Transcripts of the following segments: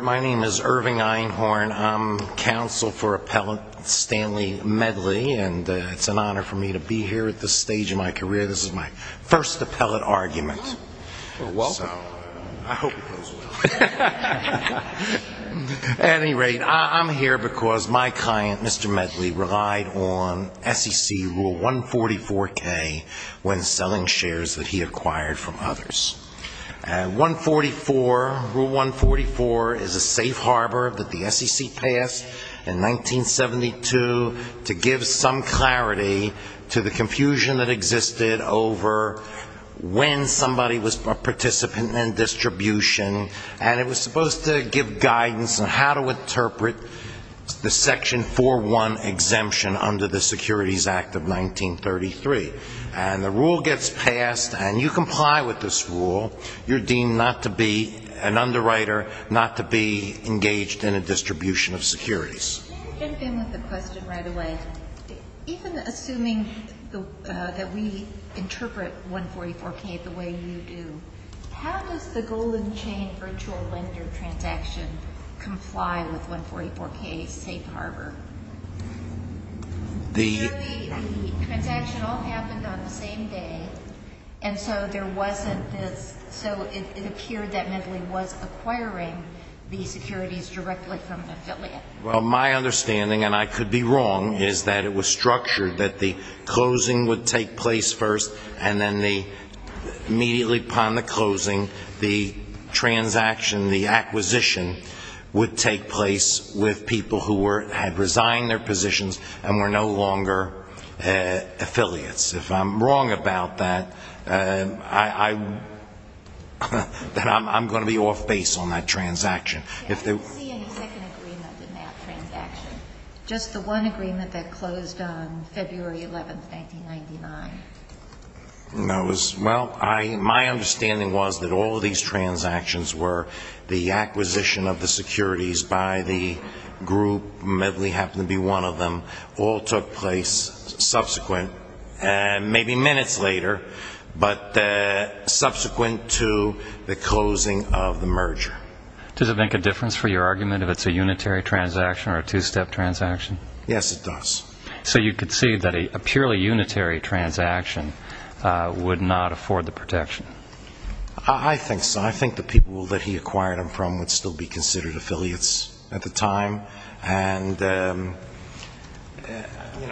My name is Irving Einhorn. I'm counsel for appellate Stanley Medley and it's an honor for me to be here at this stage in my career. This is my first appellate argument. At any rate, I'm here because my client, Mr. Medley, relied on SEC Rule 144K when selling shares that he acquired from others. And 144, Rule 144 is a safe harbor that the SEC passed in 1972 to give some clarity to the confusion that existed over when somebody was a participant in distribution and it was supposed to give guidance on how to interpret the Section 4.1 exemption under the Securities Act of 1933. And the rule gets passed and you comply with this rule, you're deemed not to be an underwriter, not to be engaged in a distribution of securities. Can I jump in with a question right away? Even assuming that we interpret 144K the way you do, how does the Golden Chain virtual lender transaction comply with 144K safe harbor? The transaction all happened on the same day and so there wasn't this, so it appeared that Medley was acquiring the securities directly from an affiliate. Well, my understanding, and I could be wrong, is that it was structured that the closing would take place first and then immediately upon the closing, the transaction, the acquisition, would take place with people who had resigned their positions and were no longer affiliates. If I'm wrong about that, I'm going to be off base on that transaction. I don't see any second agreement in that transaction. Just the one agreement that closed on February 11, 1999. My understanding was that all of these transactions were the acquisition of the securities by the group, Medley happened to be one of them, all took place subsequent, maybe minutes later, but subsequent to the closing of the merger. Does it make a difference for your argument if it's a unitary transaction or a two-step transaction? Yes, it does. So you could see that a purely unitary transaction would not afford the protection? I think so. I think the people that he acquired them from would still be considered affiliates at the time. Well,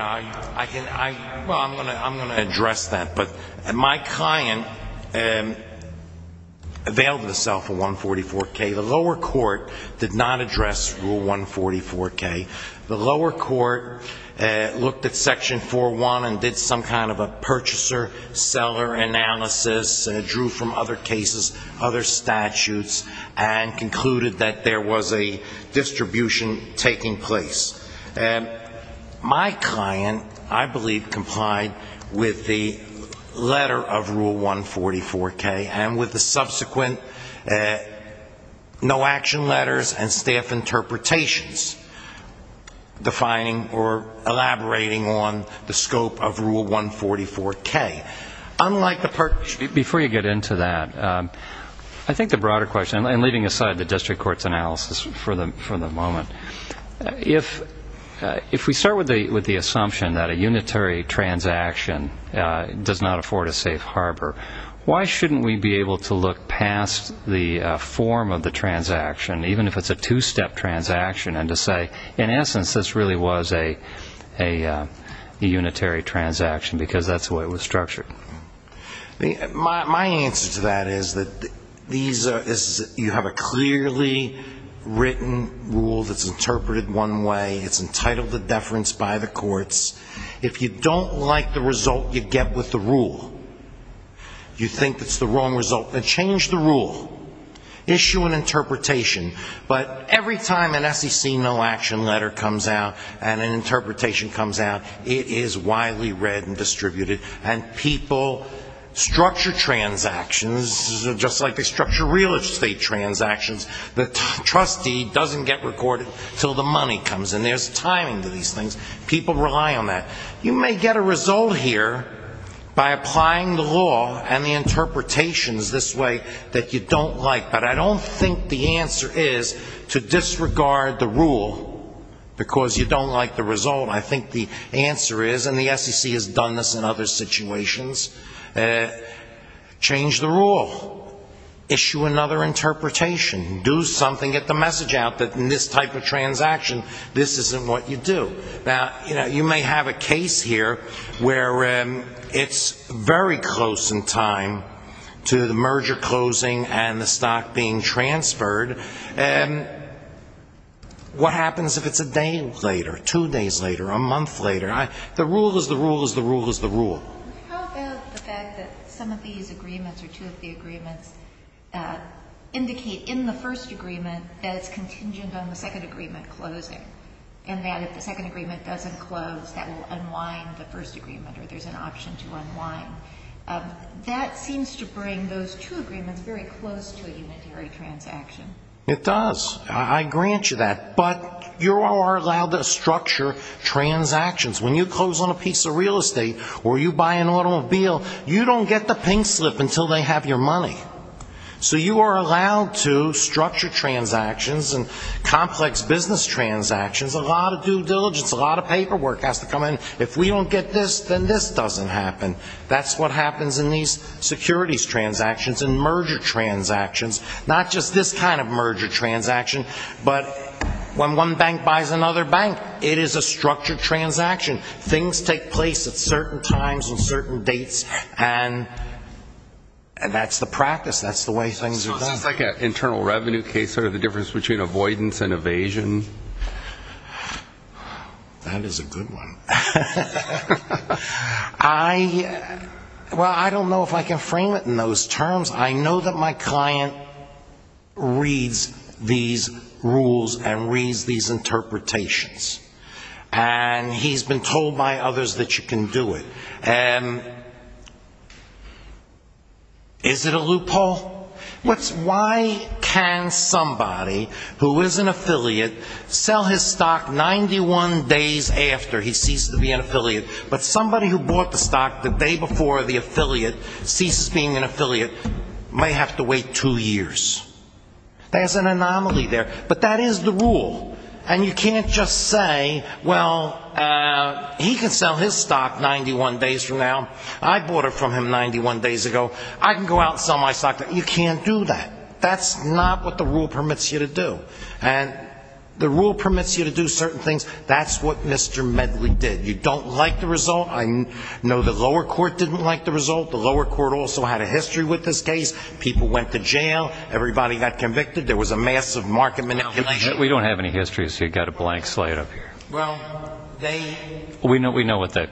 I'm going to address that. But my client availed himself of 144K. The lower court did not address Rule 144K. The lower court looked at Section 4.1 and did some kind of a purchaser-seller analysis, drew from other cases, other statutes, and concluded that there was a distribution of securities. My client, I believe, complied with the letter of Rule 144K and with the subsequent no-action letters and staff interpretations defining or elaborating on the scope of Rule 144K. Before you get into that, I think the broader question, and leaving aside the district court's analysis for the moment, if we start with the assumption that a unitary transaction does not afford a safe harbor, why shouldn't we be able to look past the form of the transaction, even if it's a two-step transaction, and to say, in essence, this really was a unitary transaction, because that's the way it was structured? My answer to that is that you have a clearly written rule that's interpreted one way. It's entitled to deference by the courts. If you don't like the result you get with the rule, you think it's the wrong result, then change the rule. Issue an interpretation. But every time an SEC no-action letter comes out and an interpretation comes out, it is widely read and distributed, and people structure transactions just like they structure real estate transactions. The trustee doesn't get recorded until the money comes, and there's timing to these things. People rely on that. You may get a result here by applying the law and the interpretations this way that you don't like, but I don't think the answer is to disregard the rule, because you don't like the result. I think the answer is, and the SEC has done this in other situations, change the rule. Issue another interpretation. Do something. Get the message out that in this type of transaction, this isn't what you do. You may have a case here where it's very close in time to the merger closing and the stock being transferred. What happens if it's a day later, two days later, a month later? The rule is the rule is the rule is the rule. How about the fact that some of these agreements or two of the agreements indicate in the first agreement that it's contingent on the second agreement closing, and that if the second agreement doesn't close, that will unwind the first agreement, or there's an option to unwind. That seems to bring those two agreements very close to a unitary transaction. It does. I grant you that. But you are allowed to structure transactions. When you close on a piece of real estate or you buy an automobile, you don't get the pink slip until they have your money. So you are allowed to structure transactions and complex business transactions. A lot of due diligence, a lot of paperwork has to come in. If we don't get this, then this doesn't happen. That's what happens in these securities transactions and merger transactions. Not just this kind of merger transaction, but when one bank buys another bank, it is a structured transaction. Things take place at certain times and certain dates, and that's the practice. That's the way things are done. This is like an internal revenue case, sort of the difference between avoidance and evasion. That is a good one. Well, I don't know if I can frame it in those terms. I know that my client reads these rules and reads these interpretations, and he's been told by others that you can do it. Is it a loophole? Why can somebody who is an affiliate sell his stock 91 days after he ceased to be an affiliate, but somebody who bought the stock the day before the affiliate ceased being an affiliate might have to wait two years? There's an anomaly there. But that is the rule. And you can't just say, well, he can sell his stock 91 days from now. I bought it from him 91 days ago. I can go out and sell my stock. You can't do that. That's not what the rule permits you to do. And the rule permits you to do certain things. That's what Mr. Medley did. You don't like the result. I know the lower court didn't like the result. The lower court also had a history with this case. People went to jail. Everybody got convicted. There was a massive market manipulation. We don't have any histories. You've got a blank slate up here. Well, they – We know what the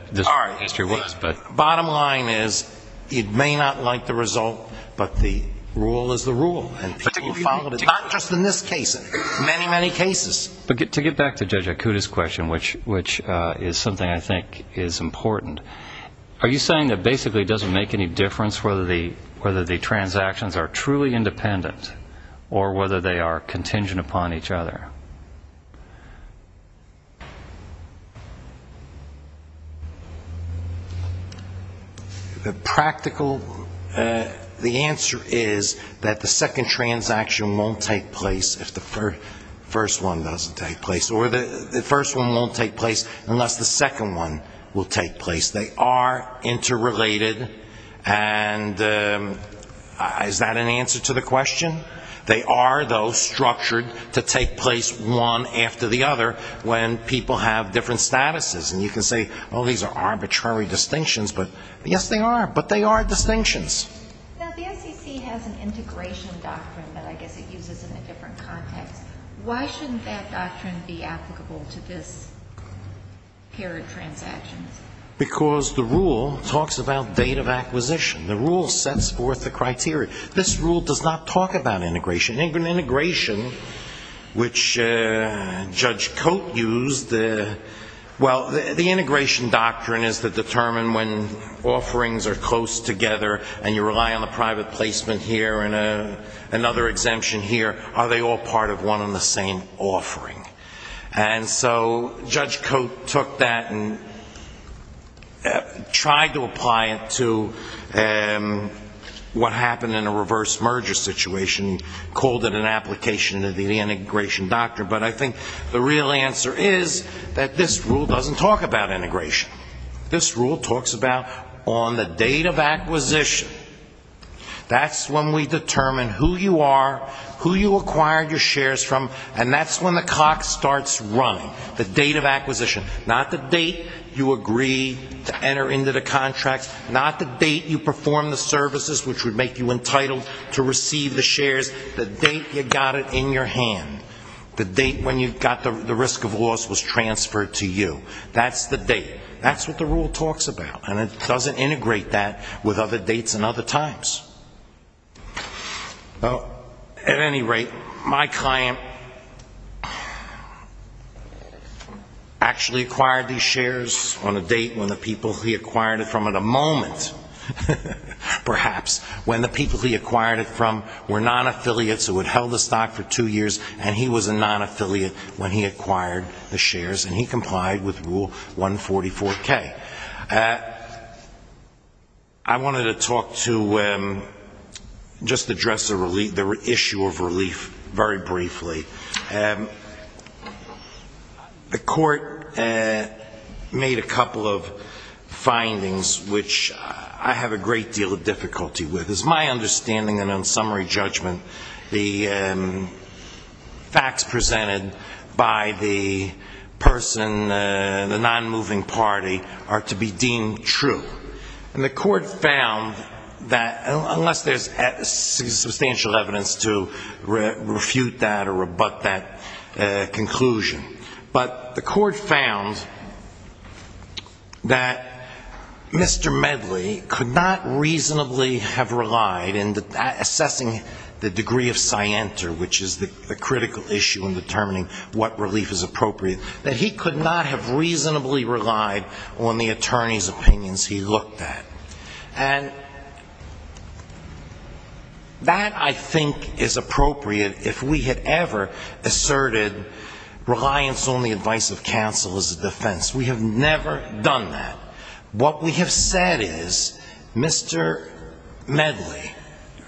history was, but – But to get back to Judge Akuta's question, which is something I think is important, are you saying that basically it doesn't make any difference whether the transactions are truly independent or whether they are contingent upon each other? The practical – the answer is that the second transaction won't take place if the first one doesn't take place. Or the first one won't take place unless the second one will take place. They are interrelated. And is that an answer to the question? They are, though, structured to take place one after the other when people have different statuses. And you can say, oh, these are arbitrary distinctions. But yes, they are. But they are distinctions. Now, the SEC has an integration doctrine that I guess it uses in a different context. Why shouldn't that doctrine be applicable to this pair of transactions? Because the rule talks about date of acquisition. The rule sets forth the criteria. This rule does not talk about integration. Integration, which Judge Cote used – well, the integration doctrine is to determine when offerings are close together and you rely on a private placement here and another exemption here, are they all part of one and the same offering? And so Judge Cote took that and tried to apply it to what happened in a reverse merger situation, called it an application of the integration doctrine. But I think the real answer is that this rule doesn't talk about integration. This rule talks about on the date of acquisition. That's when we determine who you are, who you acquired your shares from, and that's when the clock starts running. The date of acquisition. Not the date you agree to enter into the contract. Not the date you perform the services which would make you entitled to receive the shares. The date you got it in your hand. The date when you got the risk of loss was transferred to you. That's the date. That's what the rule talks about. And it doesn't integrate that with other dates and other times. Well, at any rate, my client actually acquired these shares on a date when the people he acquired it from at a moment, perhaps, when the people he acquired it from were non-affiliates who had held the stock for two years and he was a non-affiliate when he acquired the shares and he complied with Rule 144K. I wanted to talk to, just address the issue of relief very briefly. The court made a couple of findings which I have a great deal of difficulty with. It's my understanding that on summary judgment, the facts presented by the person, the non-moving party, was that the person who acquired the shares was a non-affiliate. And the court found that, unless there's substantial evidence to refute that or rebut that conclusion, but the court found that Mr. Medley could not reasonably have relied, in assessing the degree of scienter, which is the critical issue in determining what relief is appropriate, that he could not have reasonably relied on the authority of the non-moving party. And that, I think, is appropriate if we had ever asserted reliance on the advice of counsel as a defense. We have never done that. What we have said is, Mr. Medley,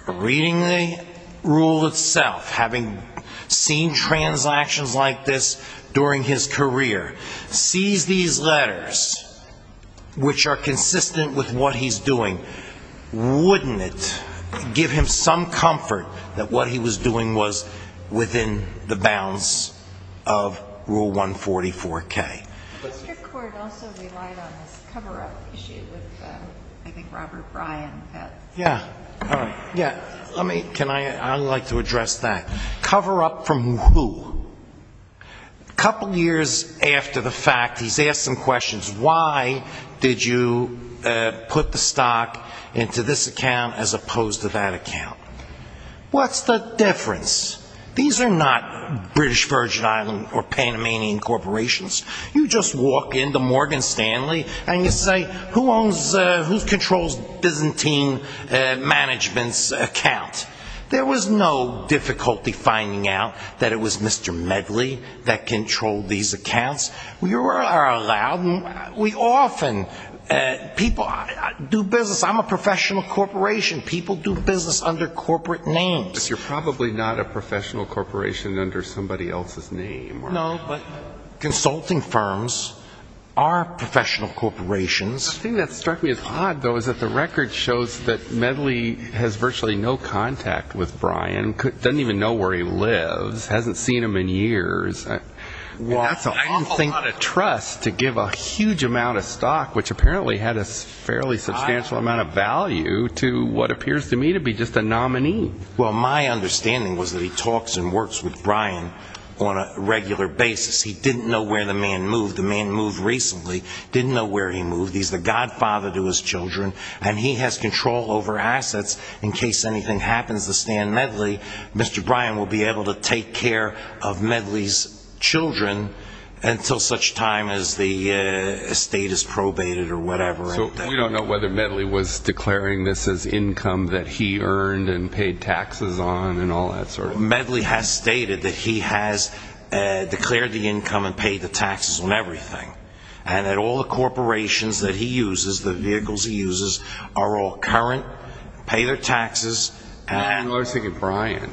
reading the rule itself, having seen transactions like this during his career, sees these letters, which are consistent with what he's doing, wouldn't it give him some comfort that what he was doing was within the bounds of Rule 144K? Mr. Court also relied on this cover-up issue with, I think, Robert Bryan. Yeah. I'd like to address that. Cover-up from who? A couple years after the fact, he's asked some questions. Why did you put the stock into this account as opposed to that account? What's the difference? These are not British Virgin Islands or Panamanian corporations. You just walk into Morgan Stanley and you say, who controls Byzantine Management's account? There was no difficulty finding out that it was Mr. Medley that controlled these accounts. We often do business. I'm a professional corporation. People do business under corporate names. But you're probably not a professional corporation under somebody else's name. No, but consulting firms are professional corporations. The thing that struck me as odd, though, is that the record shows that Medley has virtually no contact with Bryan, doesn't even know where he lives, hasn't seen him in years. That's an awful lot of trust to give a huge amount of stock, which apparently had a fairly substantial amount of value, to what appears to me to be just a nominee. Well, my understanding was that he talks and works with Bryan on a regular basis. He didn't know where the man moved. The man moved recently, didn't know where he moved. He's the godfather to his children, and he has control over assets. In case anything happens to Stan Medley, Mr. Bryan will be able to take care of Medley's children until such time as the estate is probated or whatever. So we don't know whether Medley was declaring this as income that he earned and paid taxes on and all that sort of thing? Medley has stated that he has declared the income and paid the taxes on everything, and that all the corporations that he uses, the vehicles he uses, are all current, pay their taxes. Well, I was thinking Bryan,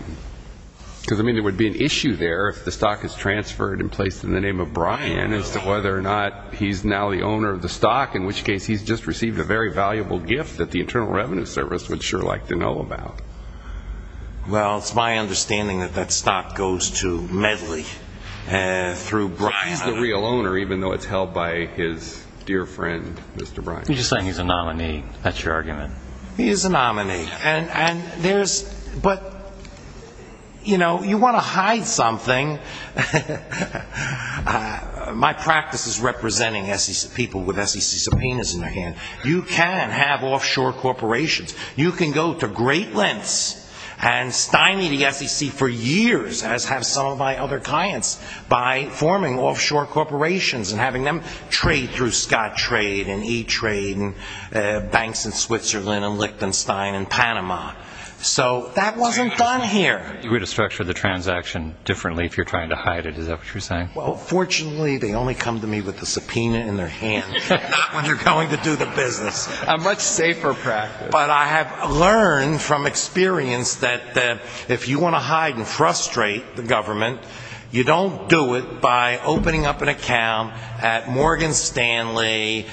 because there would be an issue there if the stock is transferred and placed in the name of Bryan as to whether or not he's now the owner of the stock, in which case he's just received a very valuable gift that the Internal Revenue Service would sure like to know about. Well, it's my understanding that that stock goes to Medley through Bryan. He's the real owner, even though it's held by his dear friend, Mr. Bryan. You're just saying he's a nominee. That's your argument. He is a nominee. But you want to hide something. My practice is representing people with SEC subpoenas in their hand. You can have offshore corporations. You can go to great lengths and stymie the SEC for years, as have some of my other clients, by forming offshore corporations and having them trade through Scott Trade and E-Trade and banks in Switzerland and Lichtenstein and Panama. So that wasn't done here. You're going to structure the transaction differently if you're trying to hide it. Is that what you're saying? Well, fortunately, they only come to me with the subpoena in their hand, not when they're going to do the business. A much safer practice. But I have learned from experience that if you want to hide and frustrate the government, you don't do it by opening up an account at Morgan Stanley,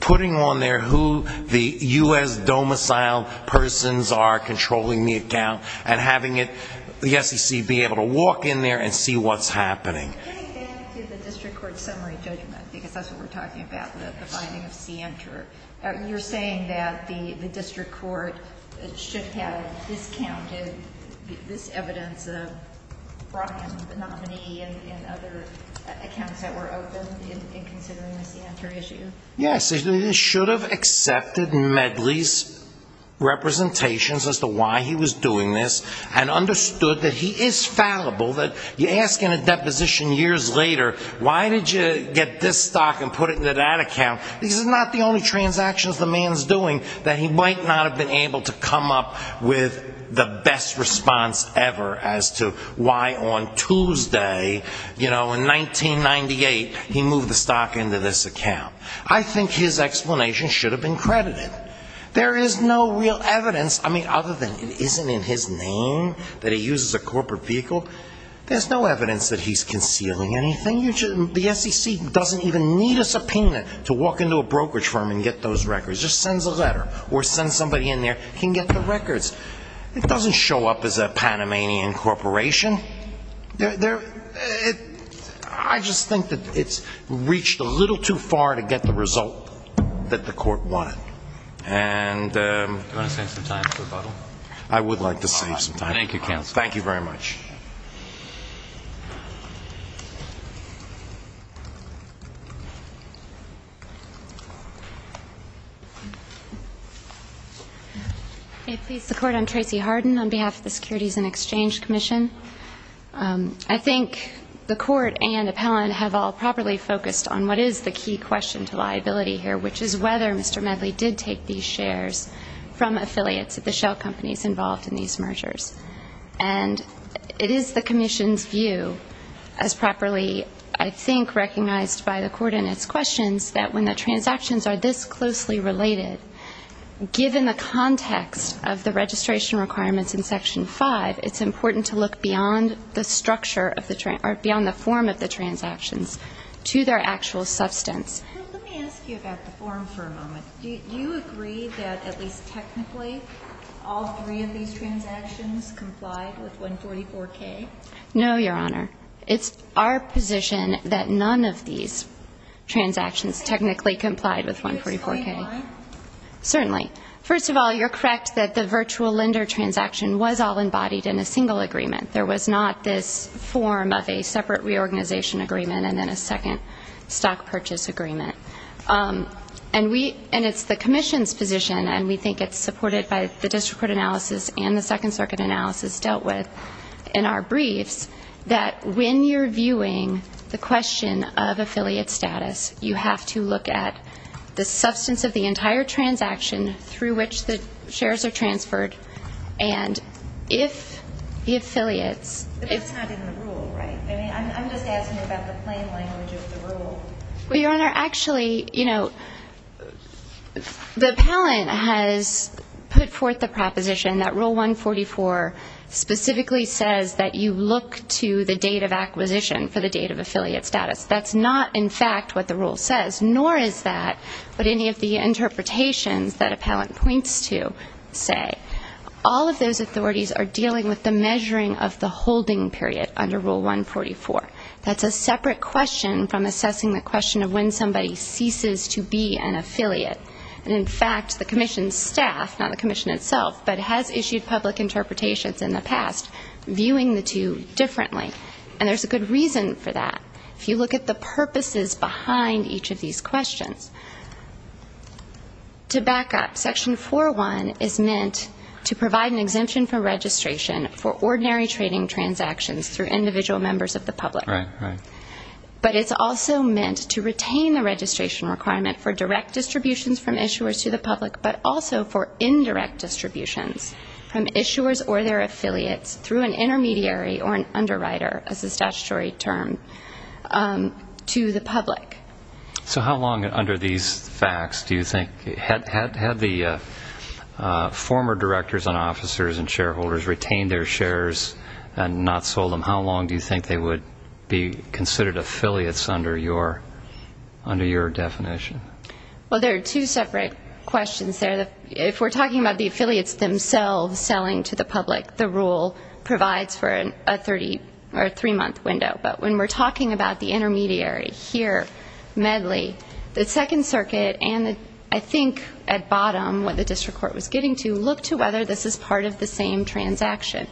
putting on there who the U.S. domicile persons are controlling the account, and having the SEC be able to walk in there and see what's happening. Getting back to the district court summary judgment, because that's what we're talking about, the finding of Sienter. You're saying that the district court should have discounted this evidence of Brockham's monopony and other accounts that were open in considering the Sienter issue? Yes. They should have accepted Medley's representations as to why he was doing this and understood that he is fallible. You ask in a deposition years later, why did you get this stock and put it into that account? These are not the only transactions the man's doing that he might not have been able to come up with the best response ever as to why on Tuesday, you know, in 1998, he moved the stock into this account. I think his explanation should have been credited. There is no real evidence. I mean, other than it isn't in his name that he uses a corporate vehicle, there's no evidence that he's concealing anything. The SEC doesn't even need a subpoena to walk into a brokerage firm and get those records. It just sends a letter or sends somebody in there, can get the records. It doesn't show up as a Panamanian corporation. I just think that it's reached a little too far to get the result that the court wanted. Do you want to save some time for rebuttal? I would like to save some time. Thank you, counsel. Thank you very much. Thank you. May it please the Court, I'm Tracy Harden on behalf of the Securities and Exchange Commission. I think the Court and Appellant have all properly focused on what is the key question to liability here, which is whether Mr. Medley did take these shares from affiliates at the shell companies involved in these mergers. And it is the Commission's view, as properly, I think, recognized by the Court in its questions, that when the transactions are this closely related, given the context of the registration requirements in Section 5, it's important to look beyond the structure or beyond the form of the transactions to their actual substance. Let me ask you about the form for a moment. Do you agree that at least technically all three of these transactions complied with 144K? No, Your Honor. It's our position that none of these transactions technically complied with 144K. Certainly. First of all, you're correct that the virtual lender transaction was all embodied in a single agreement. There was not this form of a separate reorganization agreement and then a second stock purchase agreement. And we – and it's the Commission's position, and we think it's supported by the District Court analysis and the Second Circuit analysis dealt with in our briefs, that when you're viewing the question of affiliate status, you have to look at the substance of the entire transaction through which the shares are transferred, and if the affiliates – But that's not in the rule, right? I mean, I'm just asking about the plain language of the rule. Well, Your Honor, actually, you know, the appellant has put forth the proposition that Rule 144 specifically says that you look to the date of acquisition for the date of affiliate status. That's not, in fact, what the rule says, nor is that what any of the interpretations that appellant points to say. All of those authorities are dealing with the measuring of the holding period under Rule 144. That's a separate question from assessing the question of when somebody ceases to be an affiliate. And, in fact, the Commission's staff, not the Commission itself, but has issued public interpretations in the past viewing the two differently. And there's a good reason for that. If you look at the purposes behind each of these questions. To back up, Section 401 is meant to provide an exemption for registration for ordinary trading transactions through individual members of the public. But it's also meant to retain the registration requirement for direct distributions from issuers to the public, but also for indirect distributions from issuers or their affiliates through an intermediary or an underwriter, as a statutory term, to the public. So how long under these facts do you think – had the former directors and officers and shareholders retained their shares and not sold them, how long do you think they would be considered affiliates under your definition? Well, there are two separate questions there. If we're talking about the affiliates themselves selling to the public, the rule provides for a three-month window. But when we're talking about the intermediary here, Medley, the Second Circuit and, I think, at bottom, what the district court was getting to, look to whether this is part of the same transaction.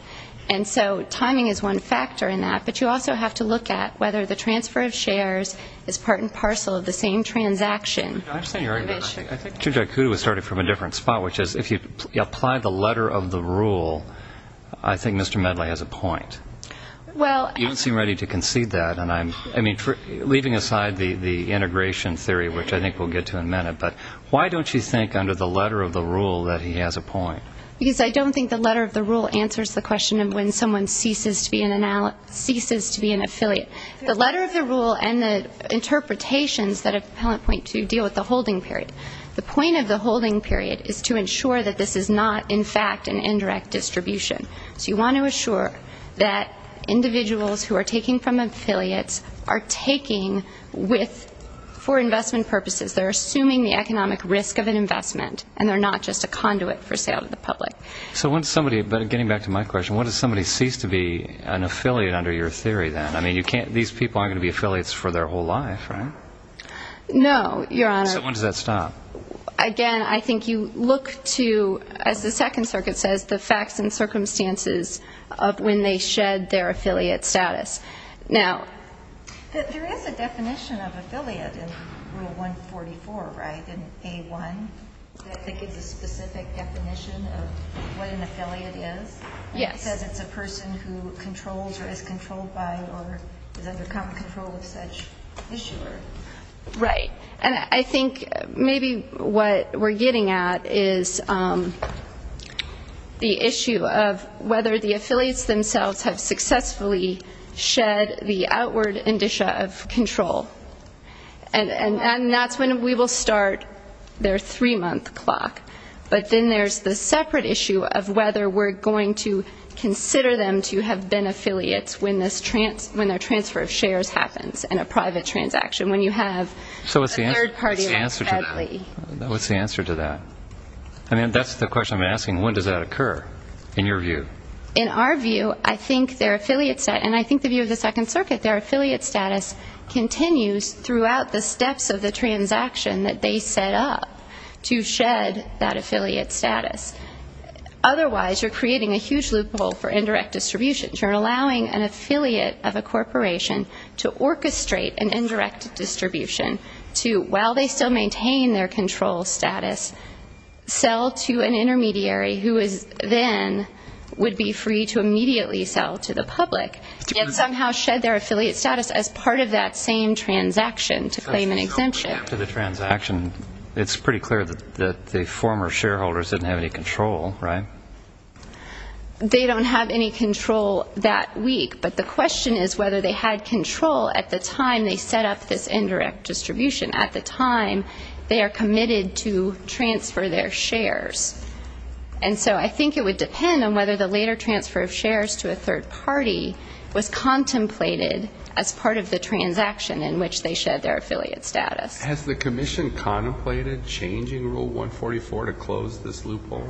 And so timing is one factor in that. But you also have to look at whether the transfer of shares is part and parcel of the same transaction. I understand your argument. I think Chief Jakutu was starting from a different spot, which is if you apply the letter of the rule, I think Mr. Medley has a point. You don't seem ready to concede that. And I'm leaving aside the integration theory, which I think we'll get to in a minute. But why don't you think under the letter of the rule that he has a point? Because I don't think the letter of the rule answers the question of when someone ceases to be an affiliate. The letter of the rule and the interpretations that appellant point to deal with the holding period. The point of the holding period is to ensure that this is not, in fact, an indirect distribution. So you want to assure that individuals who are taking from affiliates are taking for investment purposes. They're assuming the economic risk of an investment, and they're not just a conduit for sale to the public. So when somebody, getting back to my question, when does somebody cease to be an affiliate under your theory then? I mean, these people aren't going to be affiliates for their whole life, right? No, Your Honor. So when does that stop? Again, I think you look to, as the Second Circuit says, the facts and circumstances of when they shed their affiliate status. Now, there is a definition of affiliate in Rule 144, right, in A1, that gives a specific definition of what an affiliate is. Yes. It says it's a person who controls or is controlled by or has undergone control of such issuer. Right. And I think maybe what we're getting at is the issue of whether the affiliates themselves have successfully shed the outward indicia of control. And that's when we will start their three-month clock. But then there's the separate issue of whether we're going to consider them to have been affiliates when their transfer of shares happens in a private transaction, when you have a third party like Hadley. So what's the answer to that? What's the answer to that? I mean, that's the question I've been asking. When does that occur, in your view? In our view, I think their affiliate status, and I think the view of the Second Circuit, their affiliate status continues throughout the steps of the transaction that they set up to shed that affiliate status. Otherwise, you're creating a huge loophole for indirect distribution. You're allowing an affiliate of a corporation to orchestrate an indirect distribution to, while they still maintain their control status, sell to an intermediary, who is then would be free to immediately sell to the public, and somehow shed their affiliate status as part of that same transaction to claim an exemption. So after the transaction, it's pretty clear that the former shareholders didn't have any control, right? They don't have any control that week. But the question is whether they had control at the time they set up this indirect distribution, at the time they are committed to transfer their shares. And so I think it would depend on whether the later transfer of shares to a third party was contemplated as part of the transaction in which they shed their affiliate status. Has the Commission contemplated changing Rule 144 to close this loophole?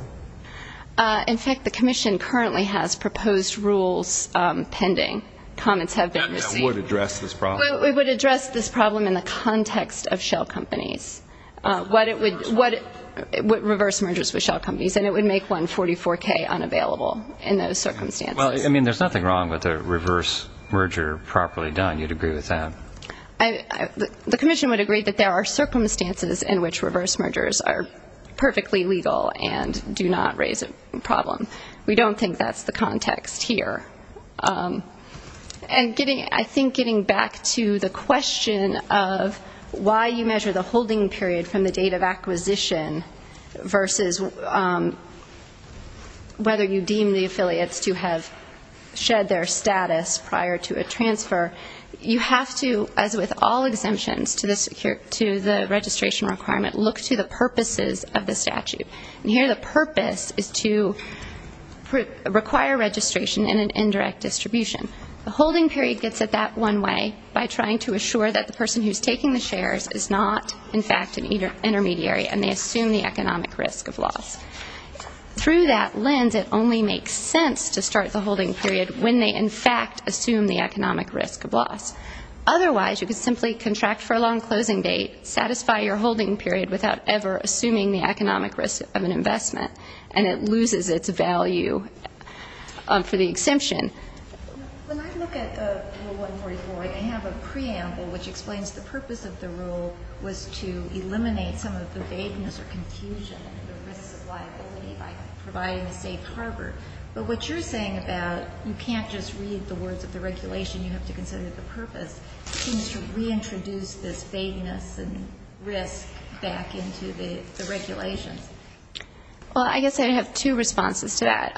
In fact, the Commission currently has proposed rules pending. Comments have been received. And that would address this problem? It would address this problem in the context of shell companies, reverse mergers with shell companies, and it would make 144K unavailable in those circumstances. Well, I mean, there's nothing wrong with a reverse merger properly done. You'd agree with that? The Commission would agree that there are circumstances in which reverse mergers are perfectly legal and do not raise a problem. We don't think that's the context here. And I think getting back to the question of why you measure the holding period from the date of acquisition versus whether you deem the affiliates to have shed their status prior to a transfer, you have to, as with all exemptions to the registration requirement, look to the purposes of the statute. And here the purpose is to require registration in an indirect distribution. The holding period gets it that one way by trying to assure that the person who's taking the shares is not, in fact, an intermediary and they assume the economic risk of loss. Through that lens, it only makes sense to start the holding period when they, in fact, assume the economic risk of loss. Otherwise, you could simply contract for a long closing date, satisfy your holding period without ever assuming the economic risk of an investment, and it loses its value for the exemption. When I look at Rule 144, I have a preamble which explains the purpose of the rule was to eliminate some of the vagueness or confusion and the risks of liability by providing a safe harbor. But what you're saying about you can't just read the words of the regulation. You have to consider the purpose seems to reintroduce this vagueness and risk back into the regulations. Well, I guess I have two responses to that.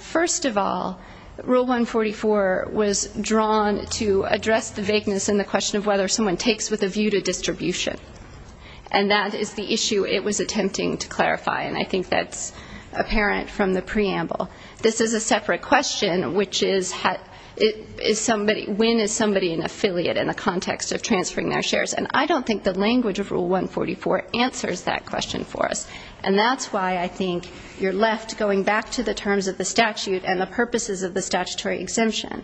First of all, Rule 144 was drawn to address the vagueness and the question of whether someone takes with a view to distribution. And that is the issue it was attempting to clarify, and I think that's apparent from the preamble. This is a separate question, which is when is somebody an affiliate in the context of transferring their shares. And I don't think the language of Rule 144 answers that question for us, and that's why I think you're left going back to the terms of the statute and the purposes of the statutory exemption.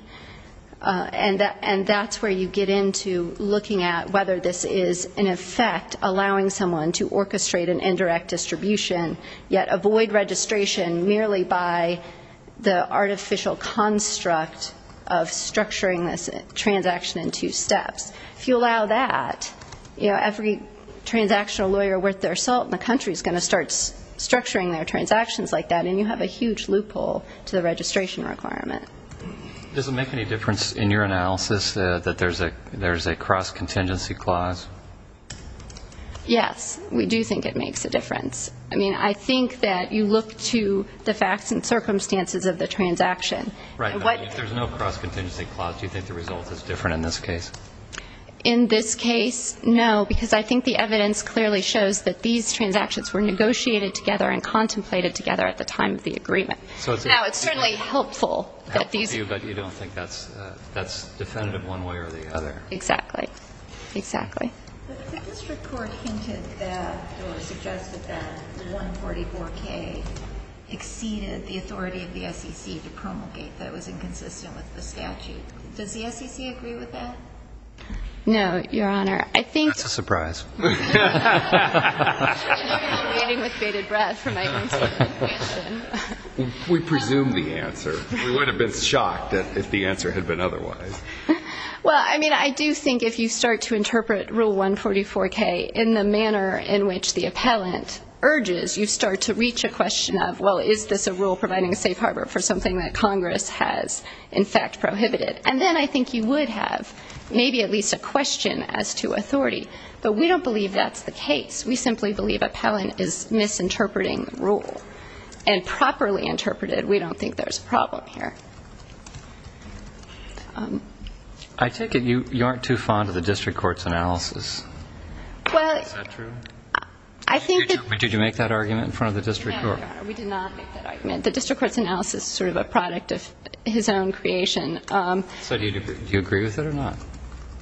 And that's where you get into looking at whether this is, in effect, allowing someone to orchestrate an indirect distribution, yet avoid registration merely by the artificial construct of structuring this transaction in two steps. If you allow that, you know, every transactional lawyer worth their salt in the country is going to start structuring their transactions like that, and you have a huge loophole to the registration requirement. Does it make any difference in your analysis that there's a cross-contingency clause? Yes, we do think it makes a difference. I mean, I think that you look to the facts and circumstances of the transaction. Right, but if there's no cross-contingency clause, do you think the result is different in this case? In this case, no, because I think the evidence clearly shows that these transactions were negotiated together and contemplated together at the time of the agreement. Now, it's certainly helpful that these... Helpful to you, but you don't think that's definitive one way or the other. Exactly, exactly. But the district court hinted that, or suggested that, 144K exceeded the authority of the SEC to promulgate that was inconsistent with the statute. Does the SEC agree with that? No, Your Honor, I think... That's a surprise. I'm waiting with bated breath for my answer. We presume the answer. We would have been shocked if the answer had been otherwise. Well, I mean, I do think if you start to interpret Rule 144K in the manner in which the appellant urges, you start to reach a question of, well, is this a rule providing a safe harbor for something that Congress has, in fact, prohibited. And then I think you would have maybe at least a question as to authority. But we don't believe that's the case. We simply believe appellant is misinterpreting the rule. And properly interpreted, we don't think there's a problem here. I take it you aren't too fond of the district court's analysis. Is that true? Did you make that argument in front of the district court? No, Your Honor, we did not make that argument. The district court's analysis is sort of a product of his own creation. So do you agree with it or not?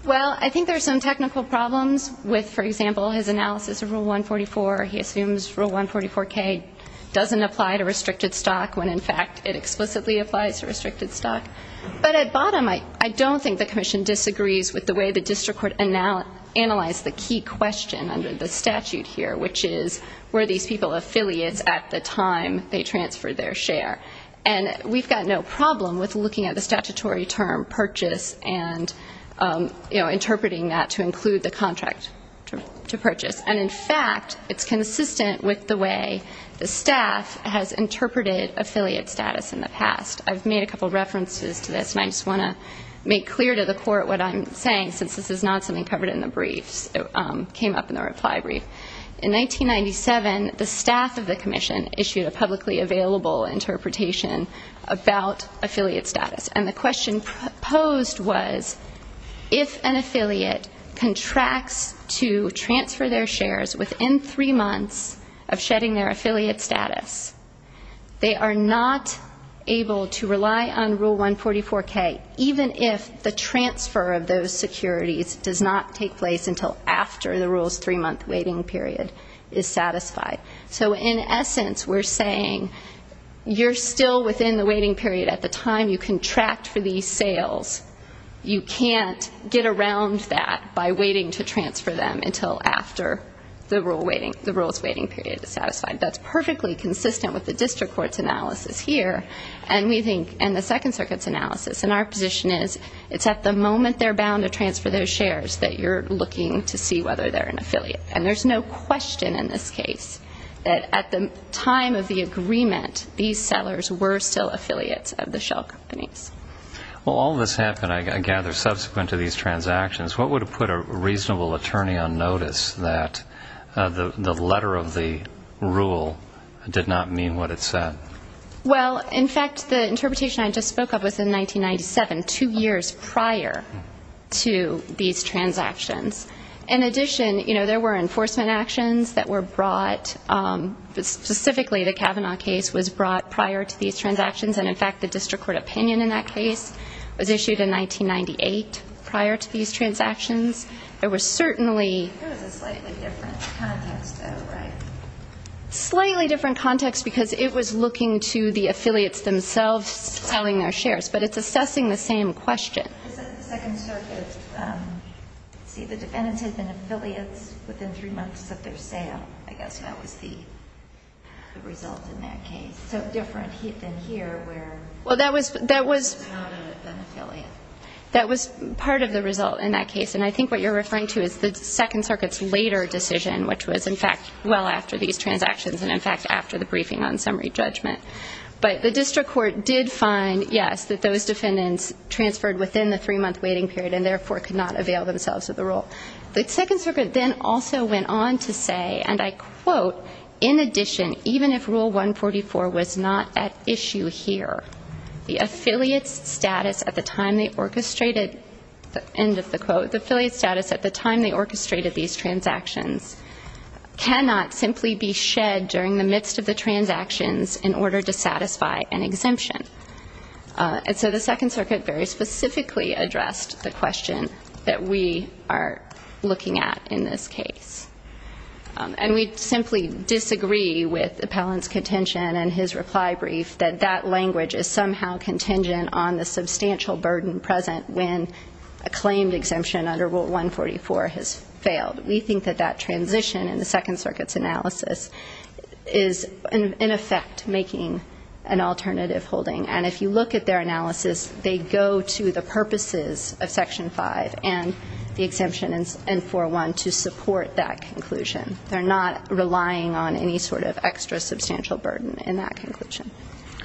Well, I think there are some technical problems with, for example, his analysis of Rule 144. He assumes Rule 144K doesn't apply to restricted stock when, in fact, it explicitly applies to restricted stock. But at bottom, I don't think the commission disagrees with the way the district court analyzed the key question under the statute here, which is were these people affiliates at the time they transferred their share. And we've got no problem with looking at the statutory term purchase and interpreting that to include the contract to purchase. And, in fact, it's consistent with the way the staff has interpreted affiliate status in the past. I've made a couple of references to this, and I just want to make clear to the court what I'm saying, since this is not something covered in the briefs that came up in the reply brief. In 1997, the staff of the commission issued a publicly available interpretation about affiliate status. And the question posed was if an affiliate contracts to transfer their shares within three months of shedding their affiliate status, they are not able to rely on Rule 144K, even if the transfer of those securities does not take place until after the rule's three-month waiting period is satisfied. So, in essence, we're saying you're still within the waiting period at the time you contract for these sales. You can't get around that by waiting to transfer them until after the rule's waiting period is satisfied. That's perfectly consistent with the district court's analysis here and the Second Circuit's analysis. And our position is it's at the moment they're bound to transfer those shares that you're looking to see whether they're an affiliate. And there's no question in this case that at the time of the agreement, these sellers were still affiliates of the shell companies. Well, all this happened, I gather, subsequent to these transactions. What would have put a reasonable attorney on notice that the letter of the rule did not mean what it said? Well, in fact, the interpretation I just spoke of was in 1997, two years prior to these transactions. In addition, you know, there were enforcement actions that were brought. Specifically, the Kavanaugh case was brought prior to these transactions. And, in fact, the district court opinion in that case was issued in 1998 prior to these transactions. There was certainly ñ It was a slightly different context, though, right? Slightly different context because it was looking to the affiliates themselves selling their shares. But it's assessing the same question. This is the Second Circuit. See, the defendants had been affiliates within three months of their sale. I guess that was the result in that case. So different than here where it was not an affiliate. That was part of the result in that case. And I think what you're referring to is the Second Circuit's later decision, which was, in fact, well after these transactions and, in fact, after the briefing on summary judgment. But the district court did find, yes, that those defendants transferred within the three-month waiting period and, therefore, could not avail themselves of the rule. The Second Circuit then also went on to say, and I quote, in addition, even if Rule 144 was not at issue here, the affiliates' status at the time they orchestrated, end of the quote, the affiliates' status at the time they orchestrated these transactions cannot simply be shed during the midst of the transactions in order to satisfy an exemption. And so the Second Circuit very specifically addressed the question that we are looking at in this case. And we simply disagree with Appellant's contention and his reply brief that that language is somehow contingent on the substantial burden present when a claimed exemption under Rule 144 has failed. We think that that transition in the Second Circuit's analysis is, in effect, making an alternative holding. And if you look at their analysis, they go to the purposes of Section 5 and the exemption N-401 to support that conclusion. They're not relying on any sort of extra substantial burden in that conclusion.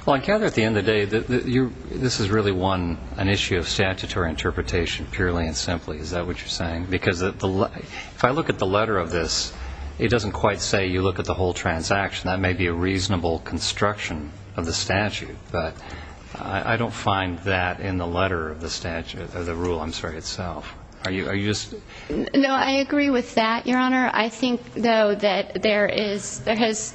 Well, I gather at the end of the day this is really one, an issue of statutory interpretation purely and simply. Is that what you're saying? Because if I look at the letter of this, it doesn't quite say you look at the whole transaction. That may be a reasonable construction of the statute. But I don't find that in the letter of the rule itself. No, I agree with that, Your Honor. I think, though, that there has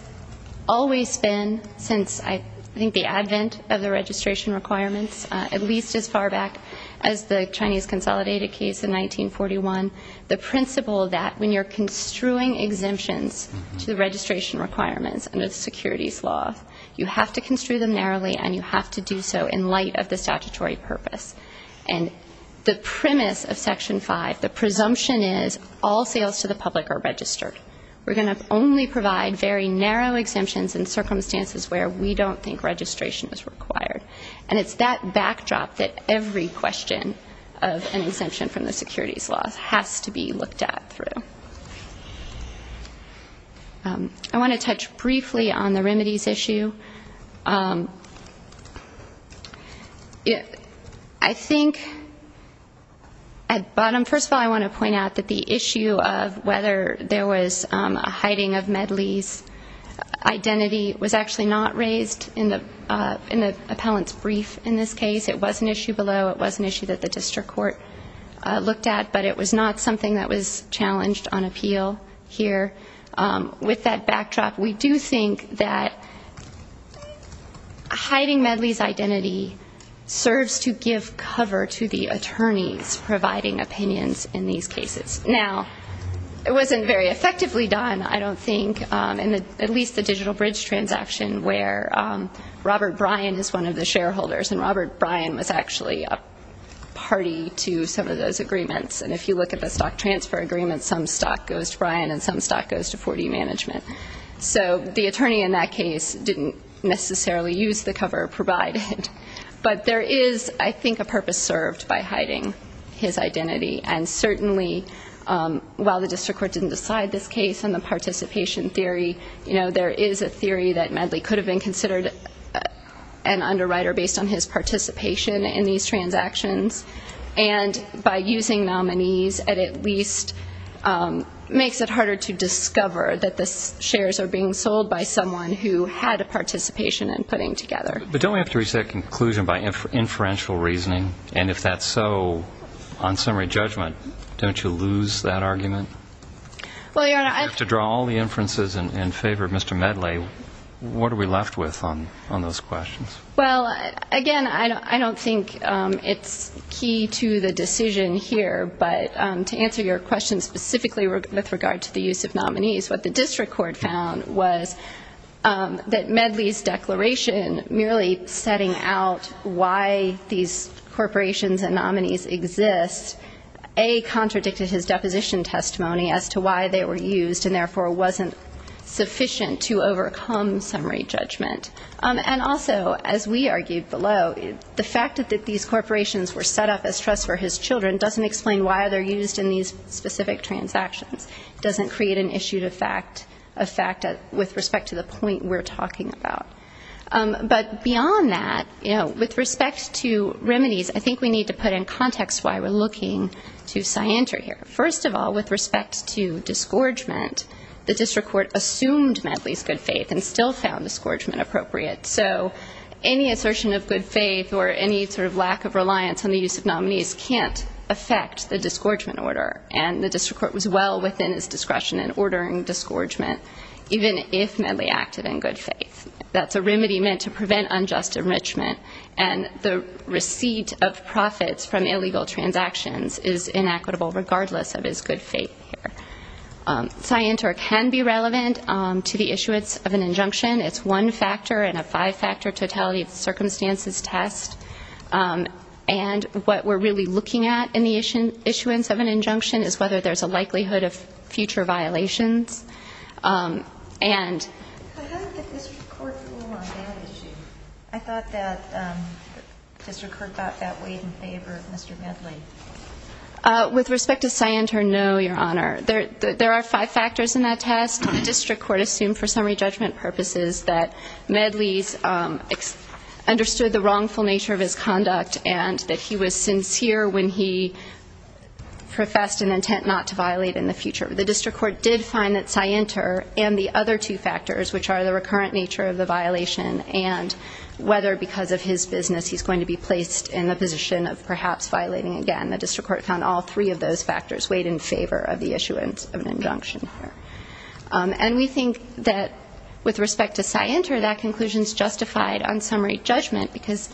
always been, since I think the advent of the registration requirements, at least as far back as the Chinese consolidated case in 1941, the principle that when you're construing exemptions to the registration requirements under the securities law, you have to construe them narrowly and you have to do so in light of the statutory purpose. And the premise of Section 5, the presumption is all sales to the public are registered. We're going to only provide very narrow exemptions in circumstances where we don't think registration is required. And it's that backdrop that every question of an exemption from the securities law has to be looked at through. I want to touch briefly on the remedies issue. I think at bottom, first of all, I want to point out that the issue of whether there was a hiding of Medley's identity was actually not raised in the appellant's brief in this case. It was an issue below. It was an issue that the district court looked at. But it was not something that was challenged on appeal here. With that backdrop, we do think that hiding Medley's identity serves to give cover to the attorneys providing opinions in these cases. Now, it wasn't very effectively done, I don't think, in at least the Digital Bridge transaction, where Robert Bryan is one of the shareholders. And Robert Bryan was actually a party to some of those agreements. And if you look at the stock transfer agreements, some stock goes to Bryan and some stock goes to 4D Management. So the attorney in that case didn't necessarily use the cover provided. But there is, I think, a purpose served by hiding his identity. And certainly, while the district court didn't decide this case in the participation theory, there is a theory that Medley could have been considered an underwriter based on his participation in these transactions. And by using nominees, it at least makes it harder to discover that the shares are being sold by someone who had a participation in putting together. But don't we have to reach that conclusion by inferential reasoning? And if that's so, on summary judgment, don't you lose that argument? If you have to draw all the inferences in favor of Mr. Medley, what are we left with on those questions? Well, again, I don't think it's key to the decision here. But to answer your question specifically with regard to the use of nominees, what the district court found was that Medley's declaration merely setting out why these corporations and nominees exist, A, contradicted his deposition testimony as to why they were used and therefore wasn't sufficient to overcome summary judgment. And also, as we argued below, the fact that these corporations were set up as trusts for his children doesn't explain why they're used in these specific transactions. It doesn't create an issue of fact with respect to the point we're talking about. But beyond that, with respect to remedies, I think we need to put in context why we're looking to scienter here. First of all, with respect to disgorgement, the district court assumed Medley's good faith and still found disgorgement appropriate. So any assertion of good faith or any sort of lack of reliance on the use of nominees can't affect the disgorgement order. And the district court was well within his discretion in ordering disgorgement, even if Medley acted in good faith. That's a remedy meant to prevent unjust enrichment. And the receipt of profits from illegal transactions is inequitable regardless of his good faith here. Scienter can be relevant to the issuance of an injunction. It's one factor in a five-factor totality of circumstances test. And what we're really looking at in the issuance of an injunction is whether there's a likelihood of future violations. How did the district court rule on that issue? I thought that district court got that weighed in favor of Mr. Medley. With respect to scienter, no, Your Honor. There are five factors in that test. The district court assumed for summary judgment purposes that Medley understood the wrongful nature of his conduct and that he was sincere when he professed an intent not to violate in the future. The district court did find that scienter and the other two factors, which are the recurrent nature of the violation and whether because of his business he's going to be placed in the position of perhaps violating again. The district court found all three of those factors weighed in favor of the issuance of an injunction. And we think that with respect to scienter, that conclusion is justified on summary judgment because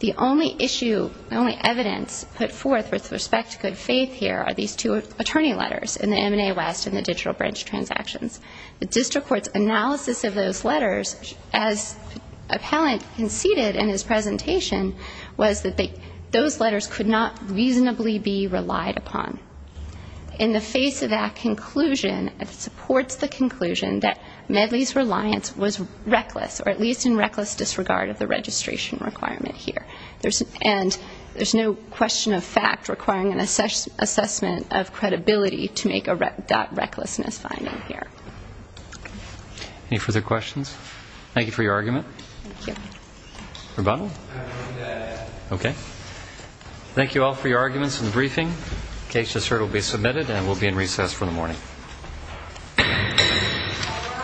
the only issue, the only evidence put forth with respect to good faith here are these two attorney letters in the M&A West and the digital branch transactions. The district court's analysis of those letters, as appellant conceded in his presentation, was that those letters could not reasonably be relied upon. In the face of that conclusion, it supports the conclusion that Medley's reliance was reckless, or at least in reckless disregard of the registration requirement here. And there's no question of fact requiring an assessment of credibility to make a recklessness finding here. Any further questions? Thank you for your argument. Thank you. Rebuttal? I move that. Okay. Thank you all for your arguments in the briefing. Case to serve will be submitted and will be in recess for the morning.